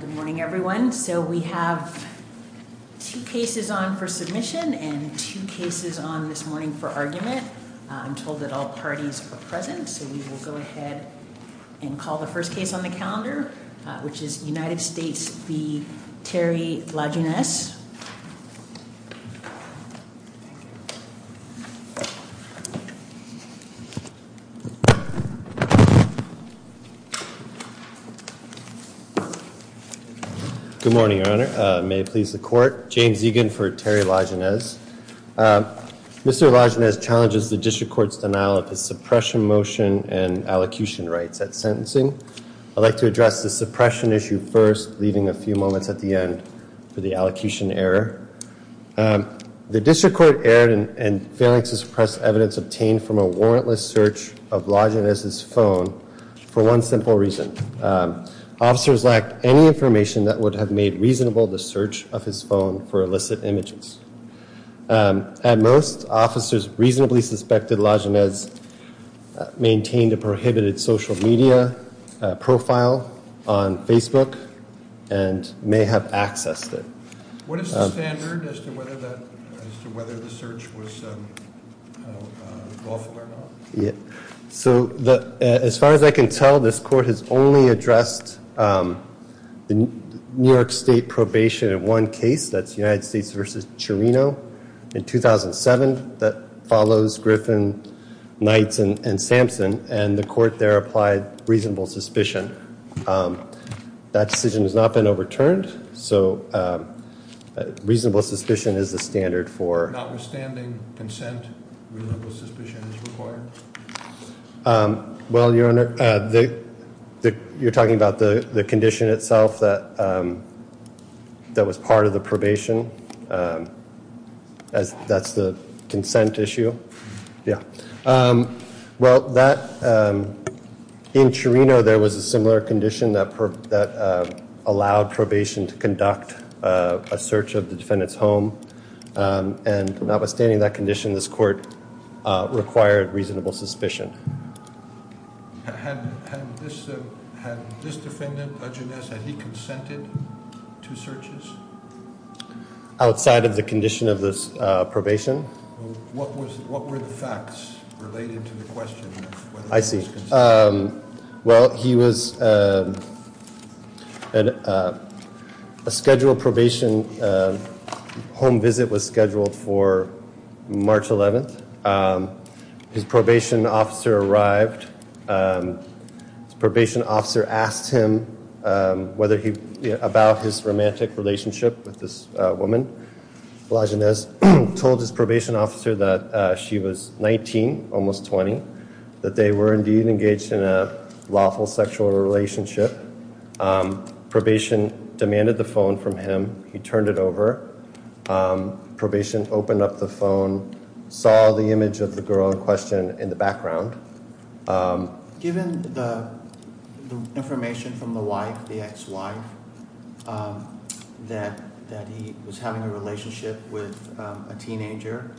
Good morning everyone. So we have two cases on for submission and two cases on this morning for argument. I'm told that all parties are present so we will go ahead and call the first case on the calendar which is United States v. Terry Lajeunesse. Good morning Your Honor. May it please the court. James Egan for Terry Lajeunesse. Mr. Lajeunesse challenges the district court's denial of his suppression motion and allocution rights at sentencing. I'd like to address the suppression issue first, leaving a few moments at the end for the allocution error. The district court erred in failing to suppress evidence obtained from a warrantless search of Lajeunesse's phone for one simple reason. Officers lacked any information that would have made reasonable the search of his phone for illicit images. At most, officers reasonably suspected Lajeunesse maintained a prohibited social media profile on Facebook and may have accessed it. What is the standard as to whether the search was lawful or not? So as far as I can tell, this court has only addressed New York State probation in one case, that's United States v. Chirino in 2007 that follows Griffin, Knights and Sampson and the court there applied reasonable suspicion. That decision has not been overturned. So reasonable suspicion is the standard for notwithstanding consent, reasonable suspicion is required. Well, Your Honor, the you're talking about the condition itself that That was part of the probation. As that's the consent issue. Yeah. Well, that In Chirino, there was a similar condition that that allowed probation to conduct a search of the defendant's home. And notwithstanding that condition, this court required reasonable suspicion. Had this defendant, Lajeunesse, had he consented to searches? Outside of the condition of this probation. What was, what were the facts related to the question? I see. Well, he was A scheduled probation Home visit was scheduled for March 11 His probation officer arrived. And probation officer asked him whether he about his romantic relationship with this woman. Lajeunesse told his probation officer that she was 19 almost 20 that they were indeed engaged in a lawful sexual relationship. Probation demanded the phone from him. He turned it over. Probation opened up the phone saw the image of the girl in question in the background. Given the information from the wife, the ex-wife. That that he was having a relationship with a teenager.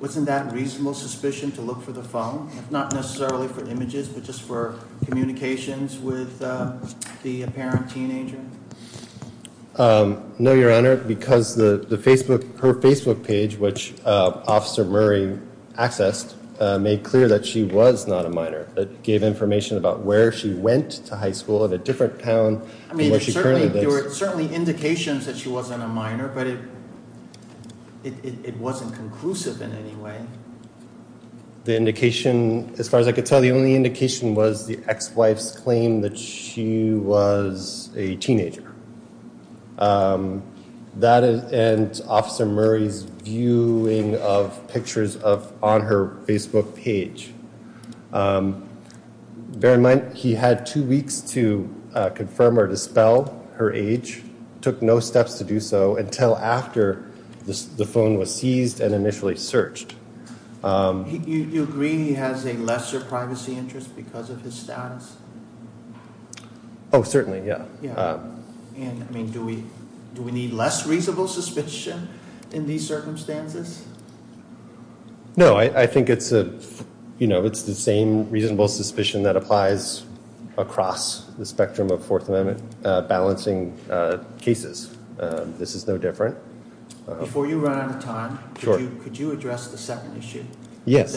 Wasn't that reasonable suspicion to look for the phone, not necessarily for images, but just for communications with the apparent teenager. No, your honor, because the Facebook her Facebook page, which officer Murray accessed made clear that she was not a minor that gave information about where she went to high school at a different town. I mean, there were certainly indications that she wasn't a minor, but it It wasn't conclusive in any way. The indication as far as I could tell you, the only indication was the ex-wife's claim that she was a teenager. That is, and officer Murray's viewing of pictures of on her Facebook page. Bear in mind, he had two weeks to confirm or dispel her age took no steps to do so until after the phone was seized and initially searched. You agree he has a lesser privacy interest because of his status. Oh, certainly. Yeah. And I mean, do we do we need less reasonable suspicion in these circumstances? No, I think it's a, you know, it's the same reasonable suspicion that applies across the spectrum of Fourth Amendment balancing cases. This is no different. Before you run out of time, could you address the second issue? Yes.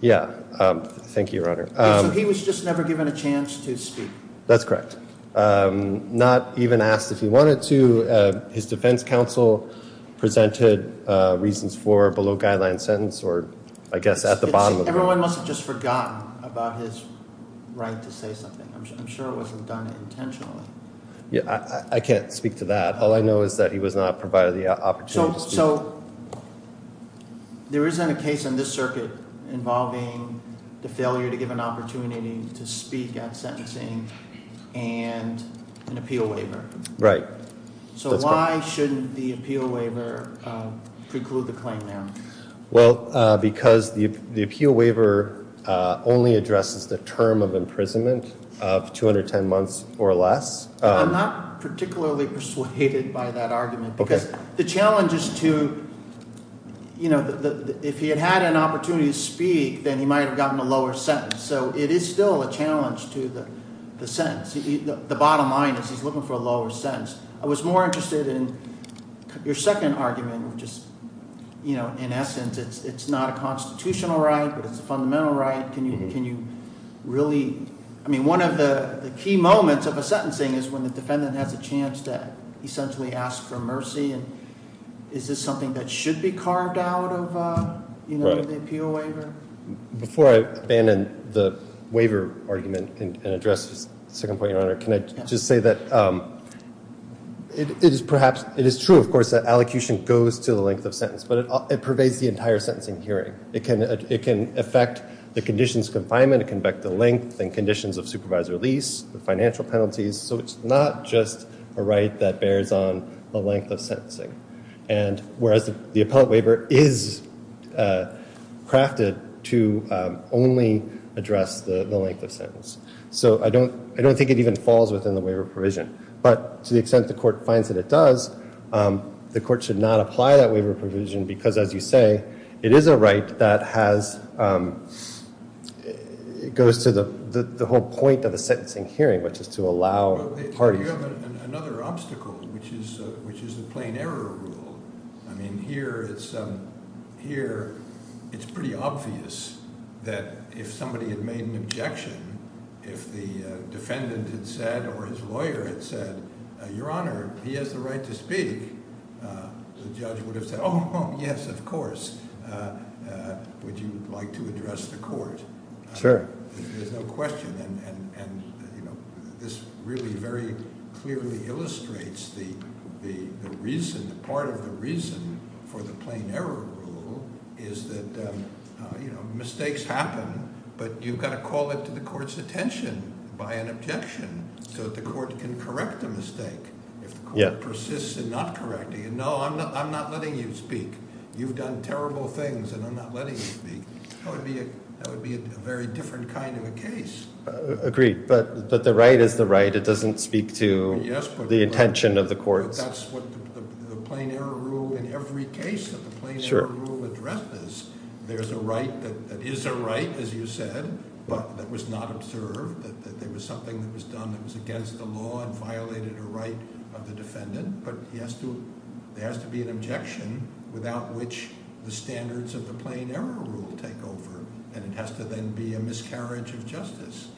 Yeah. Thank you, Your Honor. He was just never given a chance to speak. That's correct. Not even asked if he wanted to. His defense counsel presented reasons for below guideline sentence or I guess at the bottom. Everyone must have just forgotten about his right to say something. I'm sure it wasn't done intentionally. Yeah, I can't speak to that. All I know is that he was not provided the opportunity. So there isn't a case in this circuit involving the failure to give an opportunity to speak at sentencing and an appeal waiver. Right. So why shouldn't the appeal waiver preclude the claim now? Well, because the appeal waiver only addresses the term of imprisonment of 210 months or less. I'm not particularly persuaded by that argument because the challenge is to, you know, if he had had an opportunity to speak, then he might have gotten a lower sentence. So it is still a challenge to the sense the bottom line is he's looking for a lower sentence. I was more interested in your second argument, which is, you know, in essence, it's not a constitutional right, but it's a fundamental right. Can you really, I mean, one of the key moments of a sentencing is when the defendant has a chance to essentially ask for mercy. And is this something that should be carved out of the appeal waiver? Before I abandon the waiver argument and address the second point, Your Honor, can I just say that it is perhaps it is true, of course, that allocution goes to the length of sentence, but it pervades the entire sentencing hearing. It can affect the conditions confinement, it can affect the length and conditions of supervisory release, the financial penalties. So it's not just a right that bears on the length of sentencing. And whereas the appellate waiver is crafted to only address the length of sentence. So I don't think it even falls within the waiver provision. But to the extent the court finds that it does, the court should not apply that waiver provision because, as you say, it is a right that has, it goes to the whole point of the sentencing hearing, which is to allow parties. You have another obstacle, which is the plain error rule. I mean, here it's, here it's pretty obvious that if somebody had made an objection, if the defendant had said or his lawyer had said, Your Honor, he has the right to speak, the judge would have said, oh, yes, of course. Would you like to address the court? Sure. There's no question, and this really very clearly illustrates the reason, part of the reason for the plain error rule is that mistakes happen, but you've got to call it to the court's attention by an objection so that the court can correct the mistake. If the court persists in not correcting it, no, I'm not letting you speak. You've done terrible things and I'm not letting you speak. That would be a very different kind of a case. Agreed, but the right is the right. It doesn't speak to the intention of the court. But that's what the plain error rule in every case that the plain error rule addresses. There's a right that is a right, as you said, but that was not observed, that there was something that was done that was against the law and violated a right of the defendant. But there has to be an objection without which the standards of the plain error rule take over. And it has to then be a miscarriage of justice.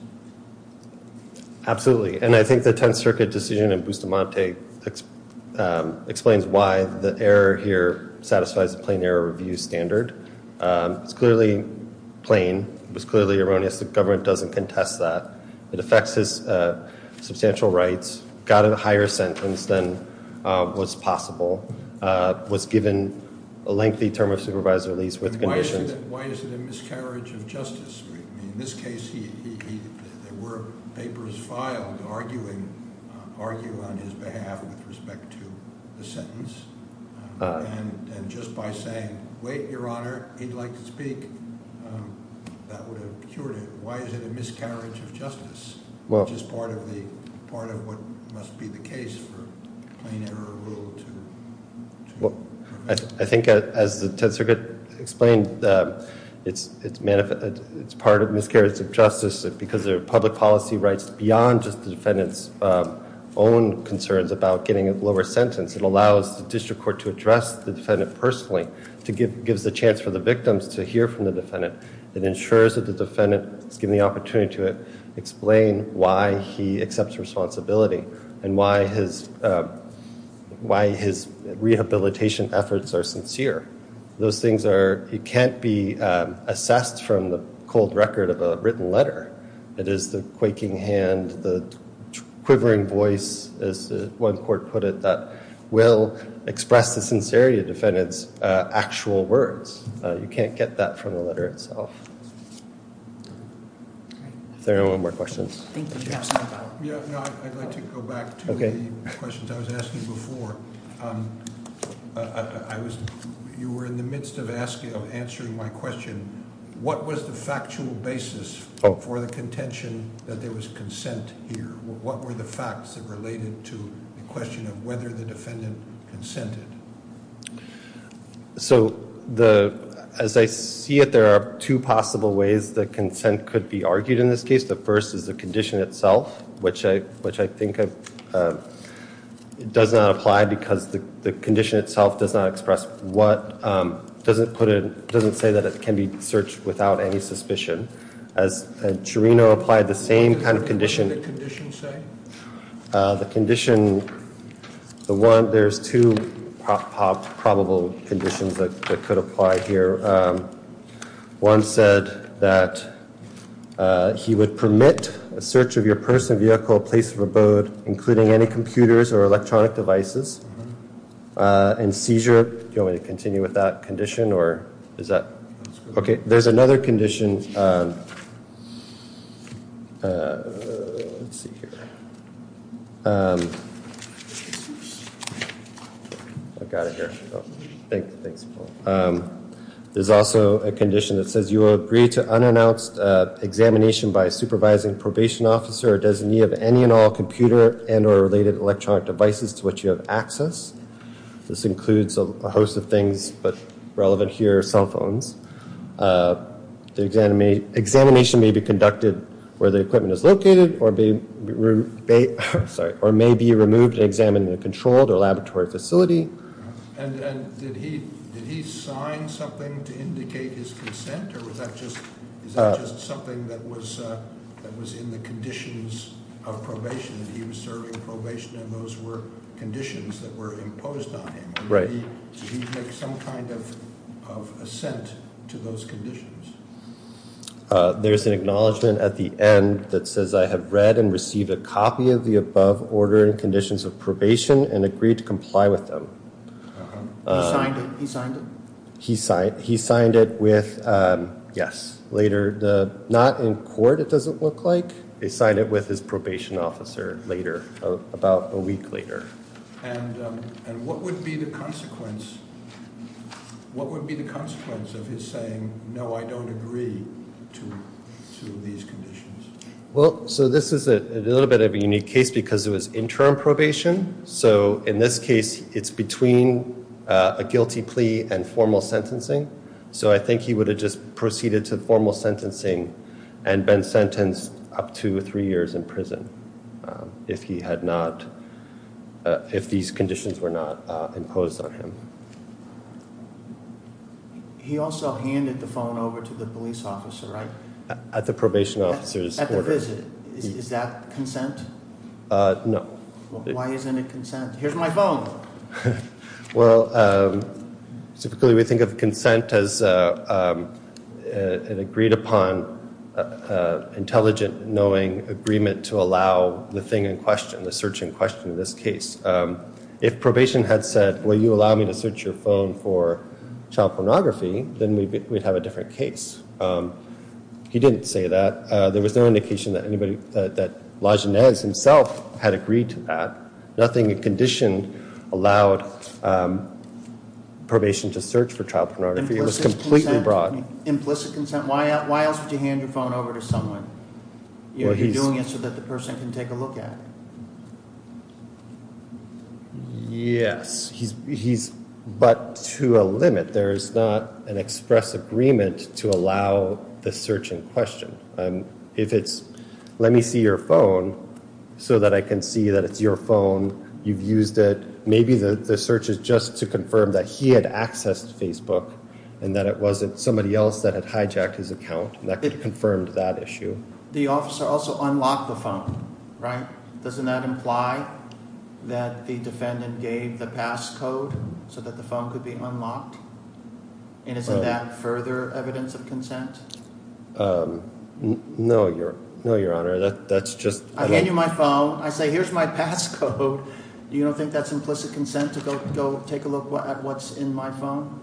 Absolutely, and I think the Tenth Circuit decision in Bustamante explains why the error here satisfies the plain error review standard. It's clearly plain, it was clearly erroneous, the government doesn't contest that. It affects his substantial rights, got a higher sentence than was possible, was given a lengthy term of supervisory lease with conditions. Why is it a miscarriage of justice? In this case, there were papers filed arguing, arguing on his behalf with respect to the sentence. And just by saying, wait, your honor, he'd like to speak, that would have cured it. Why is it a miscarriage of justice? Which is part of what must be the case for plain error rule to- I think as the Tenth Circuit explained, it's part of miscarriage of justice, because there are public policy rights beyond just the defendant's own concerns about getting a lower sentence. It allows the district court to address the defendant personally, gives the chance for the victims to hear from the defendant. It ensures that the defendant is given the opportunity to explain why he accepts responsibility and why his rehabilitation efforts are sincere. Those things are, it can't be assessed from the cold record of a written letter. It is the quaking hand, the quivering voice, as one court put it, that will express the sincerity of defendant's actual words. You can't get that from the letter itself. Is there anyone with questions? Thank you, yes. Yeah, I'd like to go back to the questions I was asking before. You were in the midst of answering my question. What was the factual basis for the contention that there was consent here? What were the facts that related to the question of whether the defendant consented? So, as I see it, there are two possible ways that consent could be argued in this case. The first is the condition itself, which I think does not apply, because the condition itself does not express what, doesn't put a, doesn't say that it can be searched without any suspicion, as Cherino applied the same kind of condition. What did the condition say? The condition, the one, there's two probable conditions that could apply here. One said that he would permit a search of your personal vehicle, a place of abode, including any computers or electronic devices, and seizure. Do you want me to continue with that condition, or is that? Okay, there's another condition. There's a condition, let's see here, I've got it here, thanks, thanks. There's also a condition that says you will agree to unannounced examination by a supervising probation officer or designee of any and all computer and or related electronic devices to which you have access. This includes a host of things, but relevant here are cell phones. The examination may be conducted where the equipment is located or may be removed and examined in a controlled or laboratory facility. And did he sign something to indicate his consent, or was that just something that was in the conditions of probation, that he was serving probation and those were conditions that were imposed on him? Right. Did he make some kind of assent to those conditions? There's an acknowledgment at the end that says I have read and received a copy of the above order and conditions of probation and agreed to comply with them. He signed it? He signed it with, yes, later, not in court it doesn't look like. He signed it with his probation officer later, about a week later. And what would be the consequence of his saying, no, I don't agree to these conditions? Well, so this is a little bit of a unique case because it was interim probation. So in this case, it's between a guilty plea and formal sentencing. So I think he would have just proceeded to formal sentencing and been sentenced up to three years in prison if he had not if these conditions were not imposed on him. He also handed the phone over to the police officer, right? At the probation officer's order. At the visit, is that consent? No. Why isn't it consent? Here's my phone. Well, typically we think of consent as an agreed upon intelligent knowing agreement to allow the thing in question, the search in question in this case. If probation had said, will you allow me to search your phone for child pornography, then we'd have a different case. He didn't say that. There was no indication that anybody, that Lajeunesse himself had agreed to that. Nothing in condition allowed probation to search for child pornography. It was completely broad. Implicit consent? Why else would you hand your phone over to someone? You're doing it so that the person can take a look at it. Yes, but to a limit. There's not an express agreement to allow the search in question. If it's, let me see your phone so that I can see that it's your phone. You've used it. Maybe the search is just to confirm that he had accessed Facebook and that it wasn't somebody else that had hijacked his account and that could have confirmed that issue. The officer also unlocked the phone, right? Doesn't that imply that the defendant gave the passcode so that the phone could be unlocked? And isn't that further evidence of consent? No, your honor, that's just- I hand you my phone, I say here's my passcode. You don't think that's implicit consent to go take a look at what's in my phone?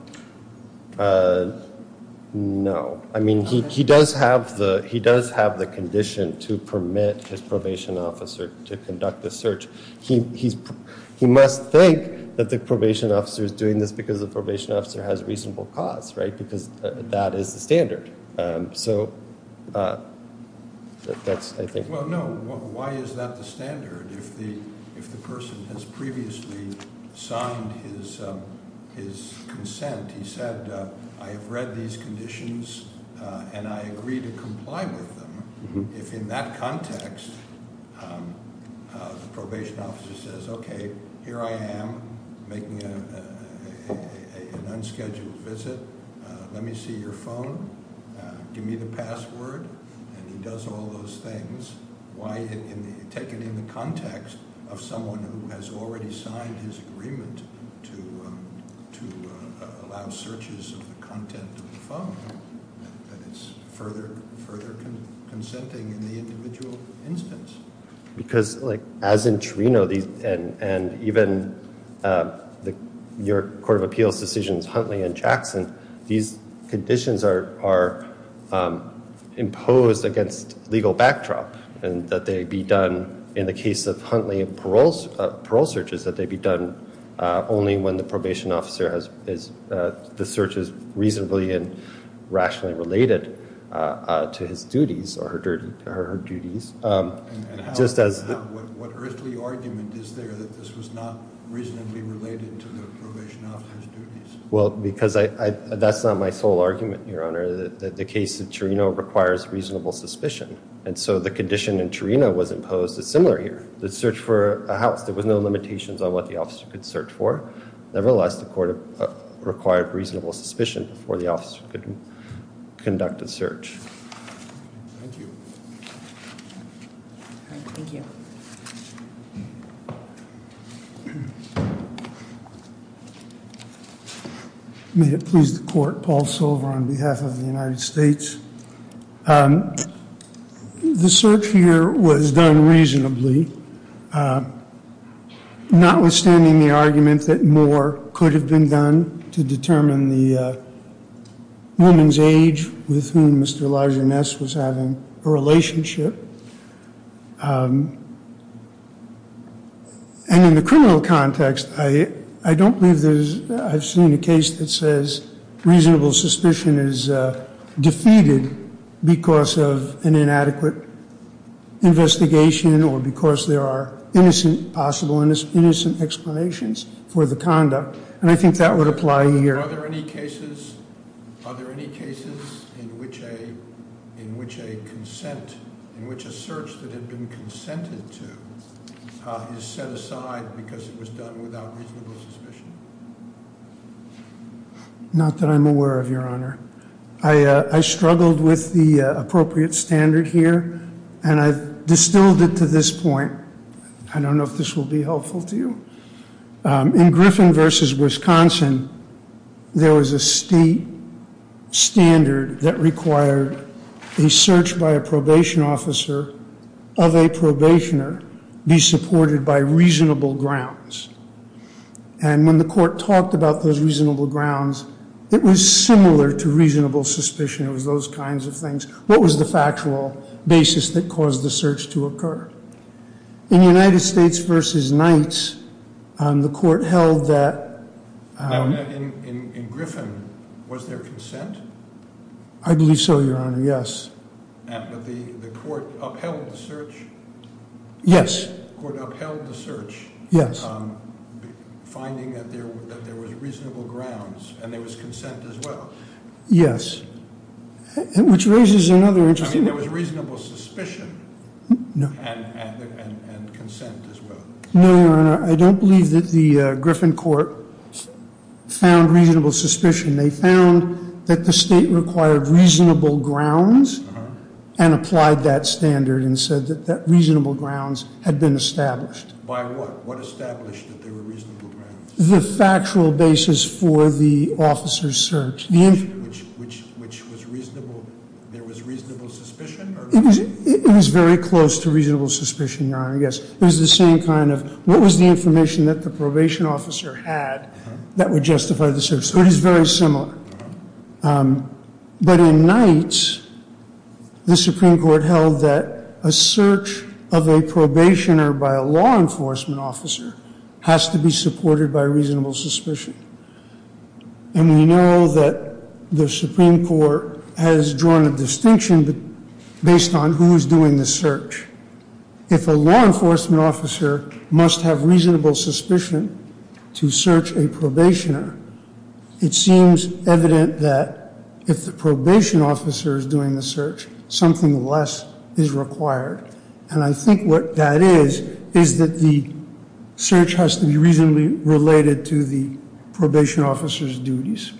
No, I mean, he does have the condition to permit his probation officer to conduct the search. He must think that the probation officer is doing this because the probation officer has reasonable cause, right? Because that is the standard. So that's, I think- Well, no, why is that the standard if the person has previously signed his consent? He said, I have read these conditions and I agree to comply with them. If in that context, the probation officer says, okay, here I am making an unscheduled visit. Let me see your phone, give me the password, and he does all those things. Why take it in the context of someone who has already signed his house searches of the content of the phone, that it's further consenting in the individual instance? Because as in Trino, and even your court of appeals decisions, Huntley and Jackson, these conditions are imposed against legal backdrop. And that they be done in the case of Huntley and parole searches, that they be done only when the search is reasonably and rationally related to his duties or her duties. Just as- What earthly argument is there that this was not reasonably related to the probation officer's duties? Well, because that's not my sole argument, your honor. The case of Trino requires reasonable suspicion. And so the condition in Trino was imposed as similar here. The search for a house, there was no limitations on what the officer could search for. Nevertheless, the court required reasonable suspicion before the officer could conduct a search. Thank you. Thank you. May it please the court, Paul Silver on behalf of the United States. The search here was done reasonably. Notwithstanding the argument that more could have been done to determine the woman's age with whom Mr. Lagerness was having a relationship. And in the criminal context, I don't believe there's- I've seen a case that says reasonable suspicion is defeated because of an inadequate investigation or because there are possible innocent explanations for the conduct. And I think that would apply here. Are there any cases in which a consent, in which a search that had been consented to is set aside because it was done without reasonable suspicion? Not that I'm aware of, Your Honor. I struggled with the appropriate standard here, and I've distilled it to this point. I don't know if this will be helpful to you. In Griffin versus Wisconsin, there was a state standard that required a search by a probation officer of a probationer be supported by reasonable grounds. And when the court talked about those reasonable grounds, it was similar to reasonable suspicion. It was those kinds of things. What was the factual basis that caused the search to occur? In United States versus Knights, the court held that- Now, in Griffin, was there consent? I believe so, Your Honor, yes. But the court upheld the search? Yes. The court upheld the search? Yes. Finding that there was reasonable grounds, and there was consent as well. Yes, which raises another interesting- I mean, there was reasonable suspicion and consent as well. No, Your Honor, I don't believe that the Griffin court found reasonable suspicion. They found that the state required reasonable grounds and applied that standard and said that reasonable grounds had been established. By what? What established that there were reasonable grounds? The factual basis for the officer's search. Which was reasonable, there was reasonable suspicion or- It was very close to reasonable suspicion, Your Honor, yes. It was the same kind of, what was the information that the probation officer had that would justify the search? So it is very similar. But in Knights, the Supreme Court held that a search of a probationer by a law enforcement officer has to be supported by reasonable suspicion. And we know that the Supreme Court has drawn a distinction based on who is doing the search. If a law enforcement officer must have reasonable suspicion to search a probationer, it seems evident that if the probation officer is doing the search, something less is required. And I think what that is, is that the search has to be reasonably related to the probation officer's duties.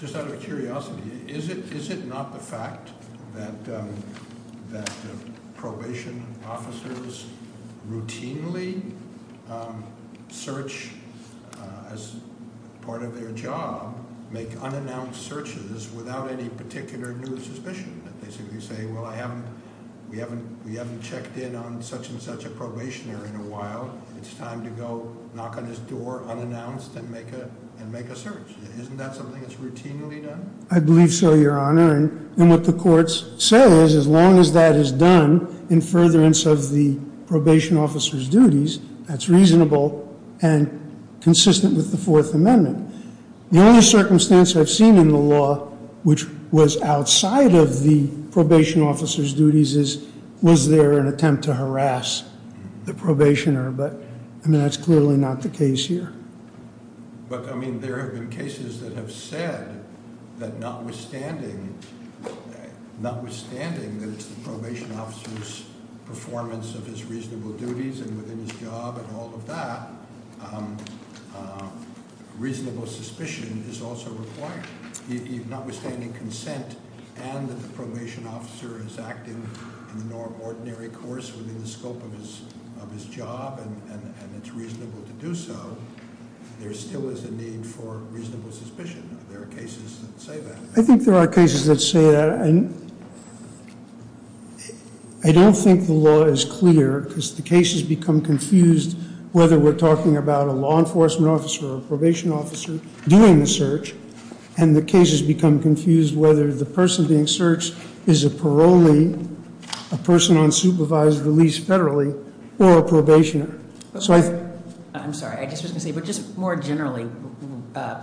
Just out of curiosity, is it not the fact that probation officers routinely search as part of their job, make unannounced searches without any particular new suspicion? That they simply say, well, we haven't checked in on such and such a probationer in a while. It's time to go knock on his door unannounced and make a search. Isn't that something that's routinely done? I believe so, Your Honor. And what the courts say is, as long as that is done in furtherance of the probation officer's duties, that's reasonable and consistent with the Fourth Amendment. The only circumstance I've seen in the law which was outside of the probation officer's duties is, was there an attempt to harass the probationer, but that's clearly not the case here. But I mean, there have been cases that have said that notwithstanding that it's the probation officer's performance of his reasonable duties and within his job and all of that, reasonable suspicion is also required. If notwithstanding consent and the probation officer is acting in the ordinary course within the scope of his job and it's reasonable to do so, there still is a need for reasonable suspicion, there are cases that say that. I think there are cases that say that and I don't think the law is clear, because the cases become confused whether we're talking about a law enforcement officer or a probation officer doing the search. And the cases become confused whether the person being searched is a parolee, a person on supervised release federally, or a probationer. So I- I'm sorry, I just was going to say, but just more generally,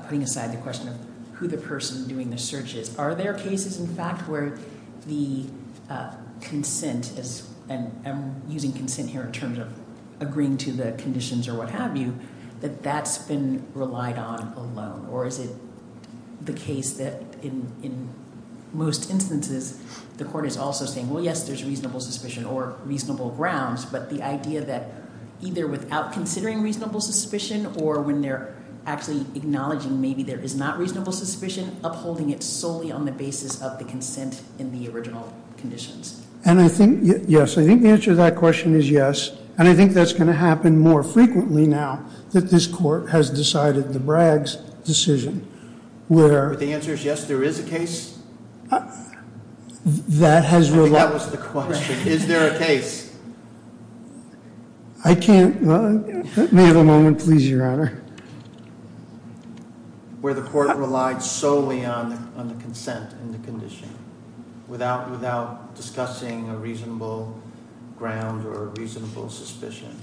putting aside the question of who the person doing the search is. Are there cases in fact where the consent is, and I'm using consent here in terms of agreeing to the conditions or what have you, that that's been relied on alone? Or is it the case that in most instances, the court is also saying, well, yes, there's reasonable suspicion or reasonable grounds. But the idea that either without considering reasonable suspicion or when they're actually acknowledging maybe there is not reasonable suspicion, upholding it solely on the basis of the consent in the original conditions. And I think, yes, I think the answer to that question is yes. And I think that's going to happen more frequently now that this court has decided the Bragg's decision. Where- The answer is yes, there is a case? That has relied- I think that was the question. Is there a case? I can't, may I have a moment please, your honor? Where the court relied solely on the consent and the condition, without discussing a reasonable ground or a reasonable suspicion.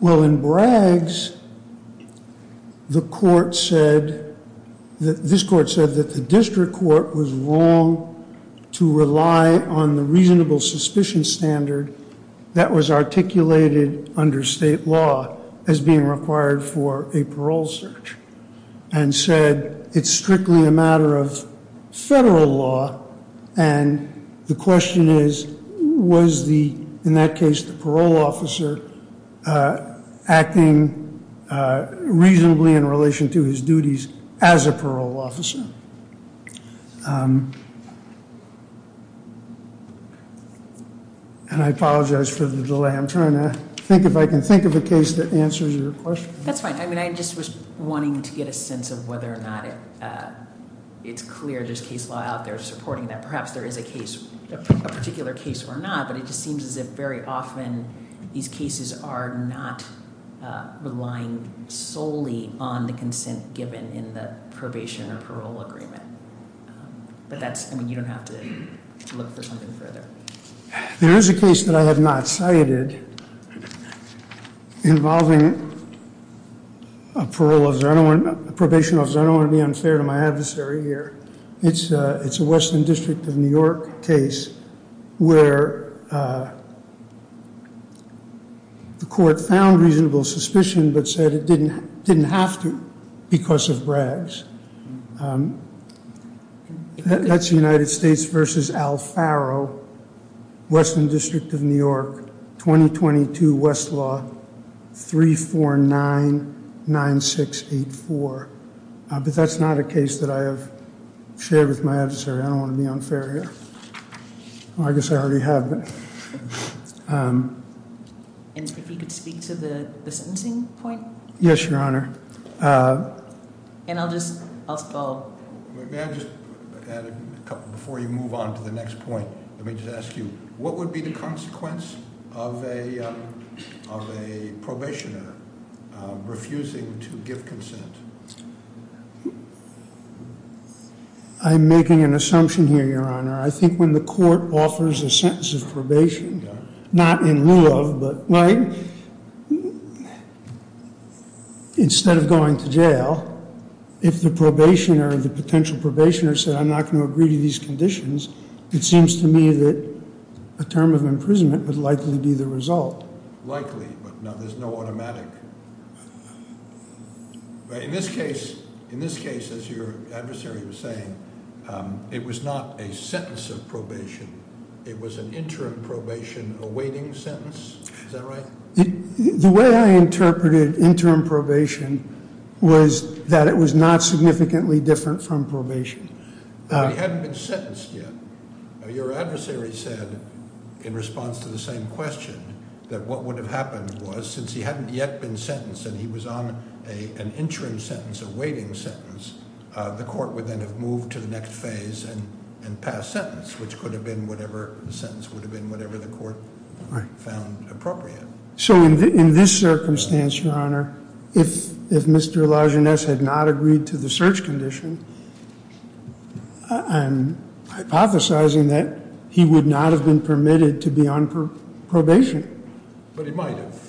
Well, in Bragg's, the court said, this court said that the district court was wrong to rely on the reasonable suspicion standard that was articulated under state law as being required for a parole search. And said, it's strictly a matter of federal law. And the question is, was the, in that case, the parole officer acting reasonably in relation to his duties as a parole officer? And I apologize for the delay. I'm trying to think if I can think of a case that answers your question. That's fine. I mean, I just was wanting to get a sense of whether or not it's clear there's case law out there supporting that. Perhaps there is a case, a particular case or not. But it just seems as if very often these cases are not relying solely on the consent given in the probation or parole agreement. But that's, I mean, you don't have to look for something further. There is a case that I have not cited involving a parole officer. I don't want, a probation officer, I don't want to be unfair to my adversary here. It's a Western District of New York case where the court found reasonable suspicion but said it didn't have to because of Braggs. That's the United States versus Al Faro, Western District of New York, 2022 Westlaw 3499684. But that's not a case that I have shared with my adversary. I don't want to be unfair here. I guess I already have. And if you could speak to the sentencing point? Yes, your honor. And I'll just, I'll just call. May I just add a couple, before you move on to the next point, let me just ask you. What would be the consequence of a probationer refusing to give consent? I'm making an assumption here, your honor. I think when the court offers a sentence of probation, not in lieu of, but right, instead of going to jail, if the probationer, the potential probationer, said I'm not going to agree to these conditions, it seems to me that a term of imprisonment would likely be the result. Likely, but now there's no automatic. But in this case, as your adversary was saying, it was not a sentence of probation. It was an interim probation awaiting sentence. Is that right? The way I interpreted interim probation was that it was not significantly different from probation. It hadn't been sentenced yet. Your adversary said, in response to the same question, that what would have happened was, since he hadn't yet been sentenced and he was on an interim sentence, a waiting sentence, the court would then have moved to the next phase and passed sentence, which could have been whatever the sentence would have been, whatever the court found appropriate. So in this circumstance, your honor, if Mr. Lajeunesse had not agreed to the search condition, I'm hypothesizing that he would not have been permitted to be on probation. But he might have.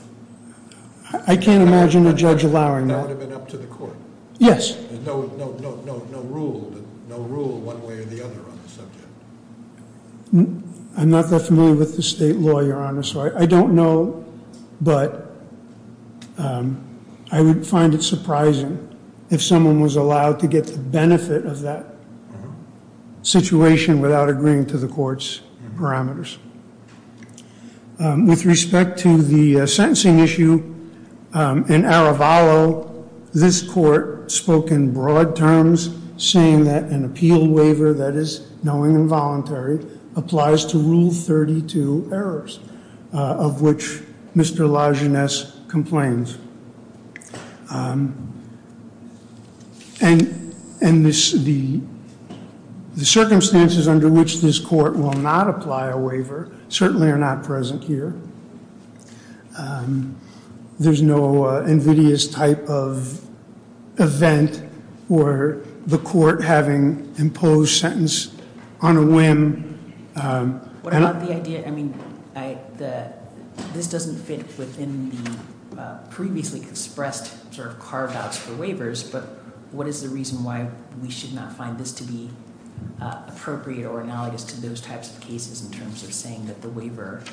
I can't imagine a judge allowing that. That would have been up to the court. Yes. No rule one way or the other on the subject. I'm not that familiar with the state law, your honor, so I don't know. But I would find it surprising if someone was allowed to get the benefit of that situation without agreeing to the court's parameters. With respect to the sentencing issue, in Arevalo, this court spoke in broad terms, saying that an appeal waiver that is knowing and voluntary, applies to rule 32 errors, of which Mr. Lajeunesse complains. And the circumstances under which this court will not apply a waiver certainly are not present here. There's no invidious type of event where the court having imposed sentence on a whim. What about the idea, I mean, this doesn't fit within the previously expressed sort of carve outs for waivers. But what is the reason why we should not find this to be appropriate or analogous to those types of cases in terms of saying that the waiver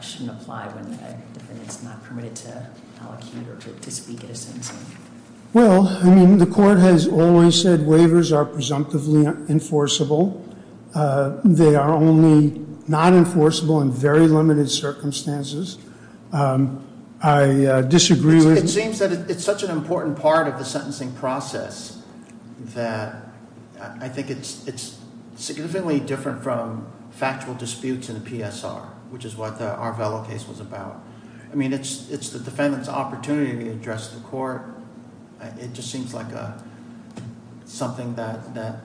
shouldn't apply when the defendant's not permitted to allocate or to speak at a sentencing? Well, I mean, the court has always said waivers are presumptively enforceable. They are only not enforceable in very limited circumstances. I disagree with- It seems that it's such an important part of the sentencing process that I think it's significantly different from factual disputes in a PSR, which is what the Arevalo case was about. I mean, it's the defendant's opportunity to address the court. It just seems like something that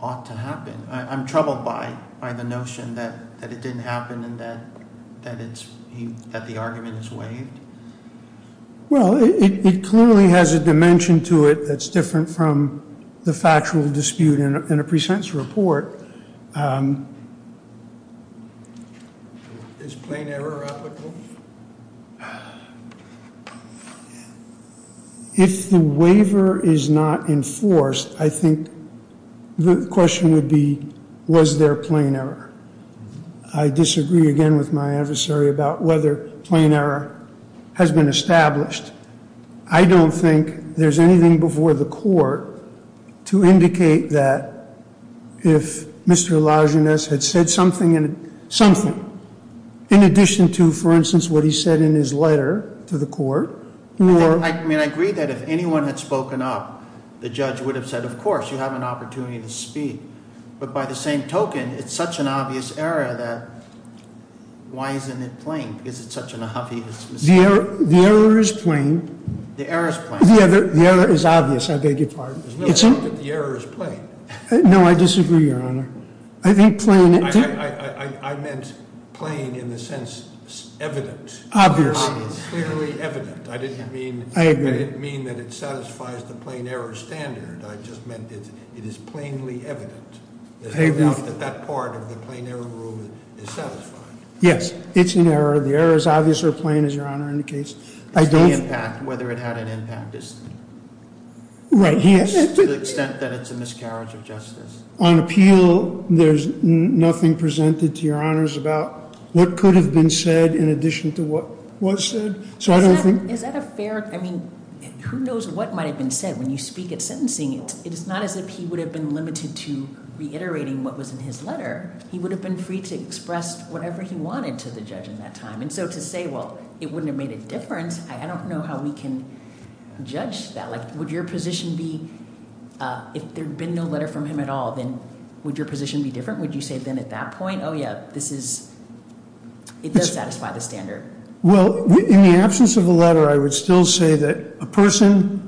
ought to happen. I'm troubled by the notion that it didn't happen and that the argument is waived. Well, it clearly has a dimension to it that's different from the factual dispute in a pre-sentence report. Is plain error applicable? If the waiver is not enforced, I think the question would be, was there plain error? I disagree again with my adversary about whether plain error has been established. I don't think there's anything before the court to indicate that if Mr. Lajunas had said something in addition to, for instance, what he said in his letter to the court, or- I mean, I agree that if anyone had spoken up, the judge would have said, of course, you have an opportunity to speak. But by the same token, it's such an obvious error that why isn't it plain? Is it such an obvious mistake? The error is plain. The error is plain. The error is obvious, I beg your pardon. It's an- The error is plain. No, I disagree, Your Honor. I think plain- I meant plain in the sense evident. Obvious. Clearly evident. I didn't mean- I agree. I didn't mean that it satisfies the plain error standard. I just meant it is plainly evident. I agree. That that part of the plain error rule is satisfied. Yes, it's an error. The error is obvious or plain, as Your Honor indicates. I don't- Whether it had an impact is- Right. Yes, to the extent that it's a miscarriage of justice. On appeal, there's nothing presented to Your Honors about what could have been said in addition to what was said. So I don't think- Is that a fair, I mean, who knows what might have been said? When you speak at sentencing, it is not as if he would have been limited to reiterating what was in his letter. He would have been free to express whatever he wanted to the judge in that time. And so to say, well, it wouldn't have made a difference, I don't know how we can judge that. Would your position be, if there'd been no letter from him at all, then would your position be different? Would you say then at that point, yeah, this is, it does satisfy the standard? Well, in the absence of a letter, I would still say that a person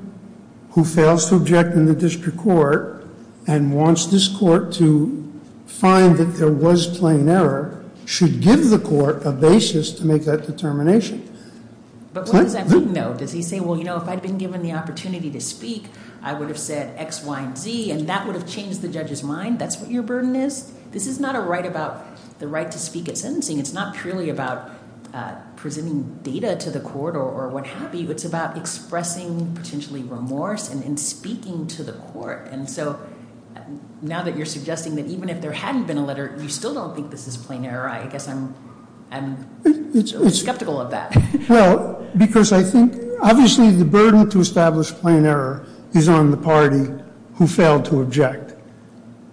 who fails to object in the district court and wants this court to find that there was plain error should give the court a basis to make that determination. But what does that mean, though? Does he say, well, you know, if I'd been given the opportunity to speak, I would have said X, Y, and Z, and that would have changed the judge's mind? That's what your burden is? This is not a right about the right to speak at sentencing. It's not purely about presenting data to the court or what have you. It's about expressing potentially remorse and speaking to the court. And so now that you're suggesting that even if there hadn't been a letter, you still don't think this is plain error, I guess I'm skeptical of that. Well, because I think, obviously, the burden to establish plain error is on the party who failed to object.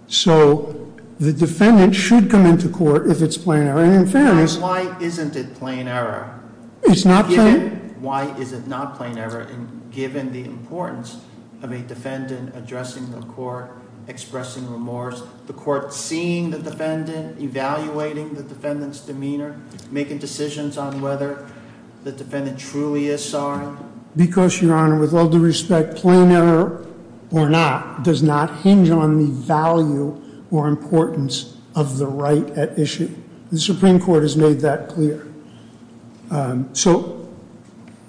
So the defendant should come into court if it's plain error, and in fairness- Why isn't it plain error? It's not plain? Why is it not plain error, given the importance of a defendant addressing the court, expressing remorse, the court seeing the defendant, evaluating the defendant's demeanor, making decisions on whether the defendant truly is sorry? Because, your honor, with all due respect, plain error or not does not hinge on the value or importance of the right at issue, the Supreme Court has made that clear. So,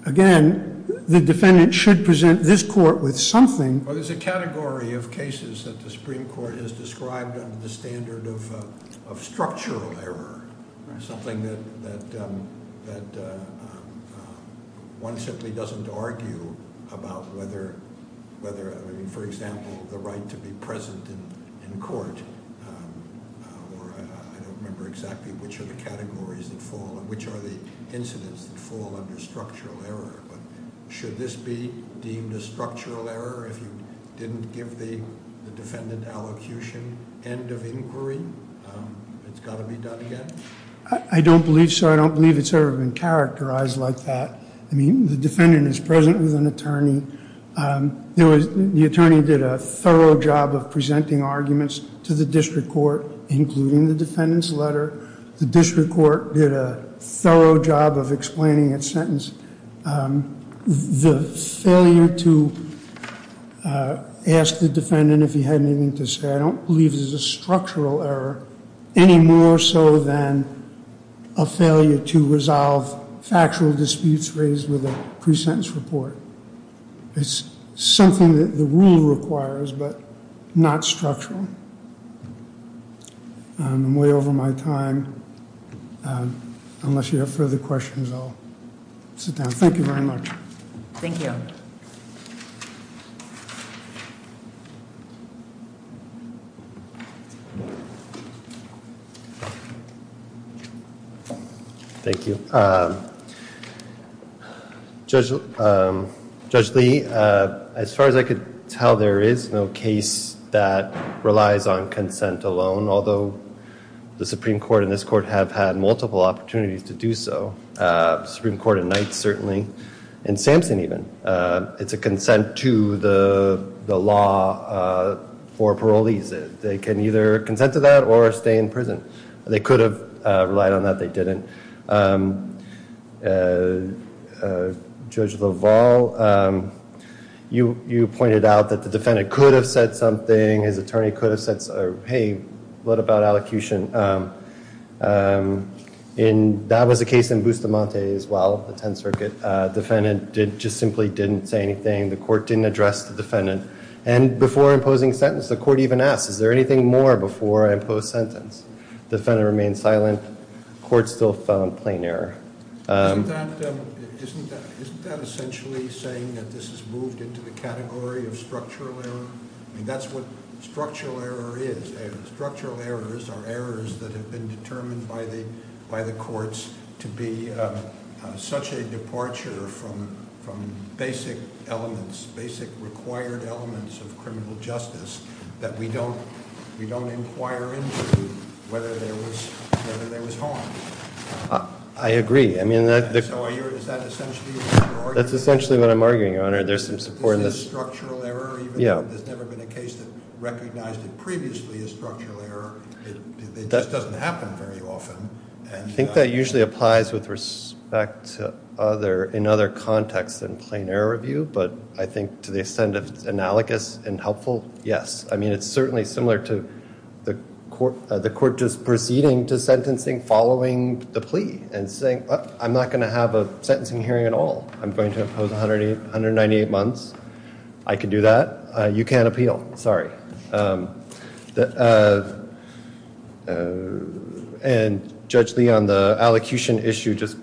again, the defendant should present this court with something- Well, there's a category of cases that the Supreme Court has described under the standard of structural error. Something that one simply doesn't argue about whether, I mean, for example, the right to be present in court, or I don't remember exactly which are the categories that fall and which are the incidents that fall under structural error, but should this be deemed a structural error if you didn't give the defendant allocution end of inquiry? It's got to be done again? I don't believe so. I don't believe it's ever been characterized like that. I mean, the defendant is present with an attorney. The attorney did a thorough job of presenting arguments to the district court, including the defendant's letter. The district court did a thorough job of explaining its sentence. The failure to ask the defendant if he had anything to say, I don't believe this is a structural error, any more so than a failure to resolve factual disputes raised with a pre-sentence report. It's something that the rule requires, but not structural. I'm way over my time, unless you have further questions, I'll sit down. Thank you very much. Thank you. Thank you. Judge Lee, as far as I could tell, there is no case that relies on consent alone, although the Supreme Court and this court have had multiple opportunities to do so. Supreme Court and Knights certainly, and Sampson even. It's a consent to the law for parolees. They can either consent to that or stay in prison. They could have relied on that, they didn't. Judge LaValle, you pointed out that the defendant could have said something, his attorney could have said, hey, what about allocution? And that was the case in Bustamante as well, the 10th Circuit. Defendant just simply didn't say anything, the court didn't address the defendant. And before imposing sentence, the court even asked, is there anything more before I impose sentence? Defendant remained silent, court still found plain error. Isn't that essentially saying that this has moved into the category of structural error? That's what structural error is. Structural errors are errors that have been determined by the courts to be such a departure from basic elements, basic required elements of criminal justice that we don't inquire into whether there was harm. I agree. I mean, that's essentially what I'm arguing, Your Honor. There's some support in this. Structural error, even though there's never been a case that recognized it previously as structural error, it just doesn't happen very often. I think that usually applies with respect to other, in other contexts than plain error review, but I think to the extent of analogous and helpful, yes. I mean, it's certainly similar to the court just proceeding to sentencing following the plea and saying, I'm not going to have a sentencing hearing at all. I'm going to impose 198 months. I can do that. You can't appeal. Sorry. And Judge Lee, on the allocution issue, just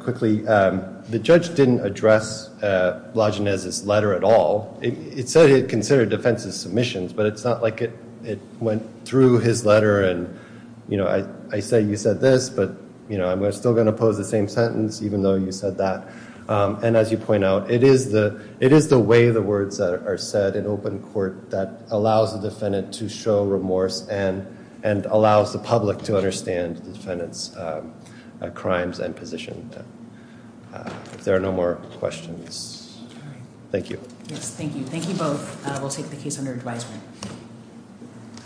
quickly, the judge didn't address Blagenese's letter at all. It said it considered defense's submissions, but it's not like it went through his letter and, you know, I say you said this, but, you know, I'm still going to pose the same sentence, even though you said that. And as you point out, it is the way the words that are said in open court that allows the defense to make a decision. Allows the defendant to show remorse and allows the public to understand the defendant's crimes and position. If there are no more questions, thank you. Yes, thank you. Thank you both. We'll take the case under advisement.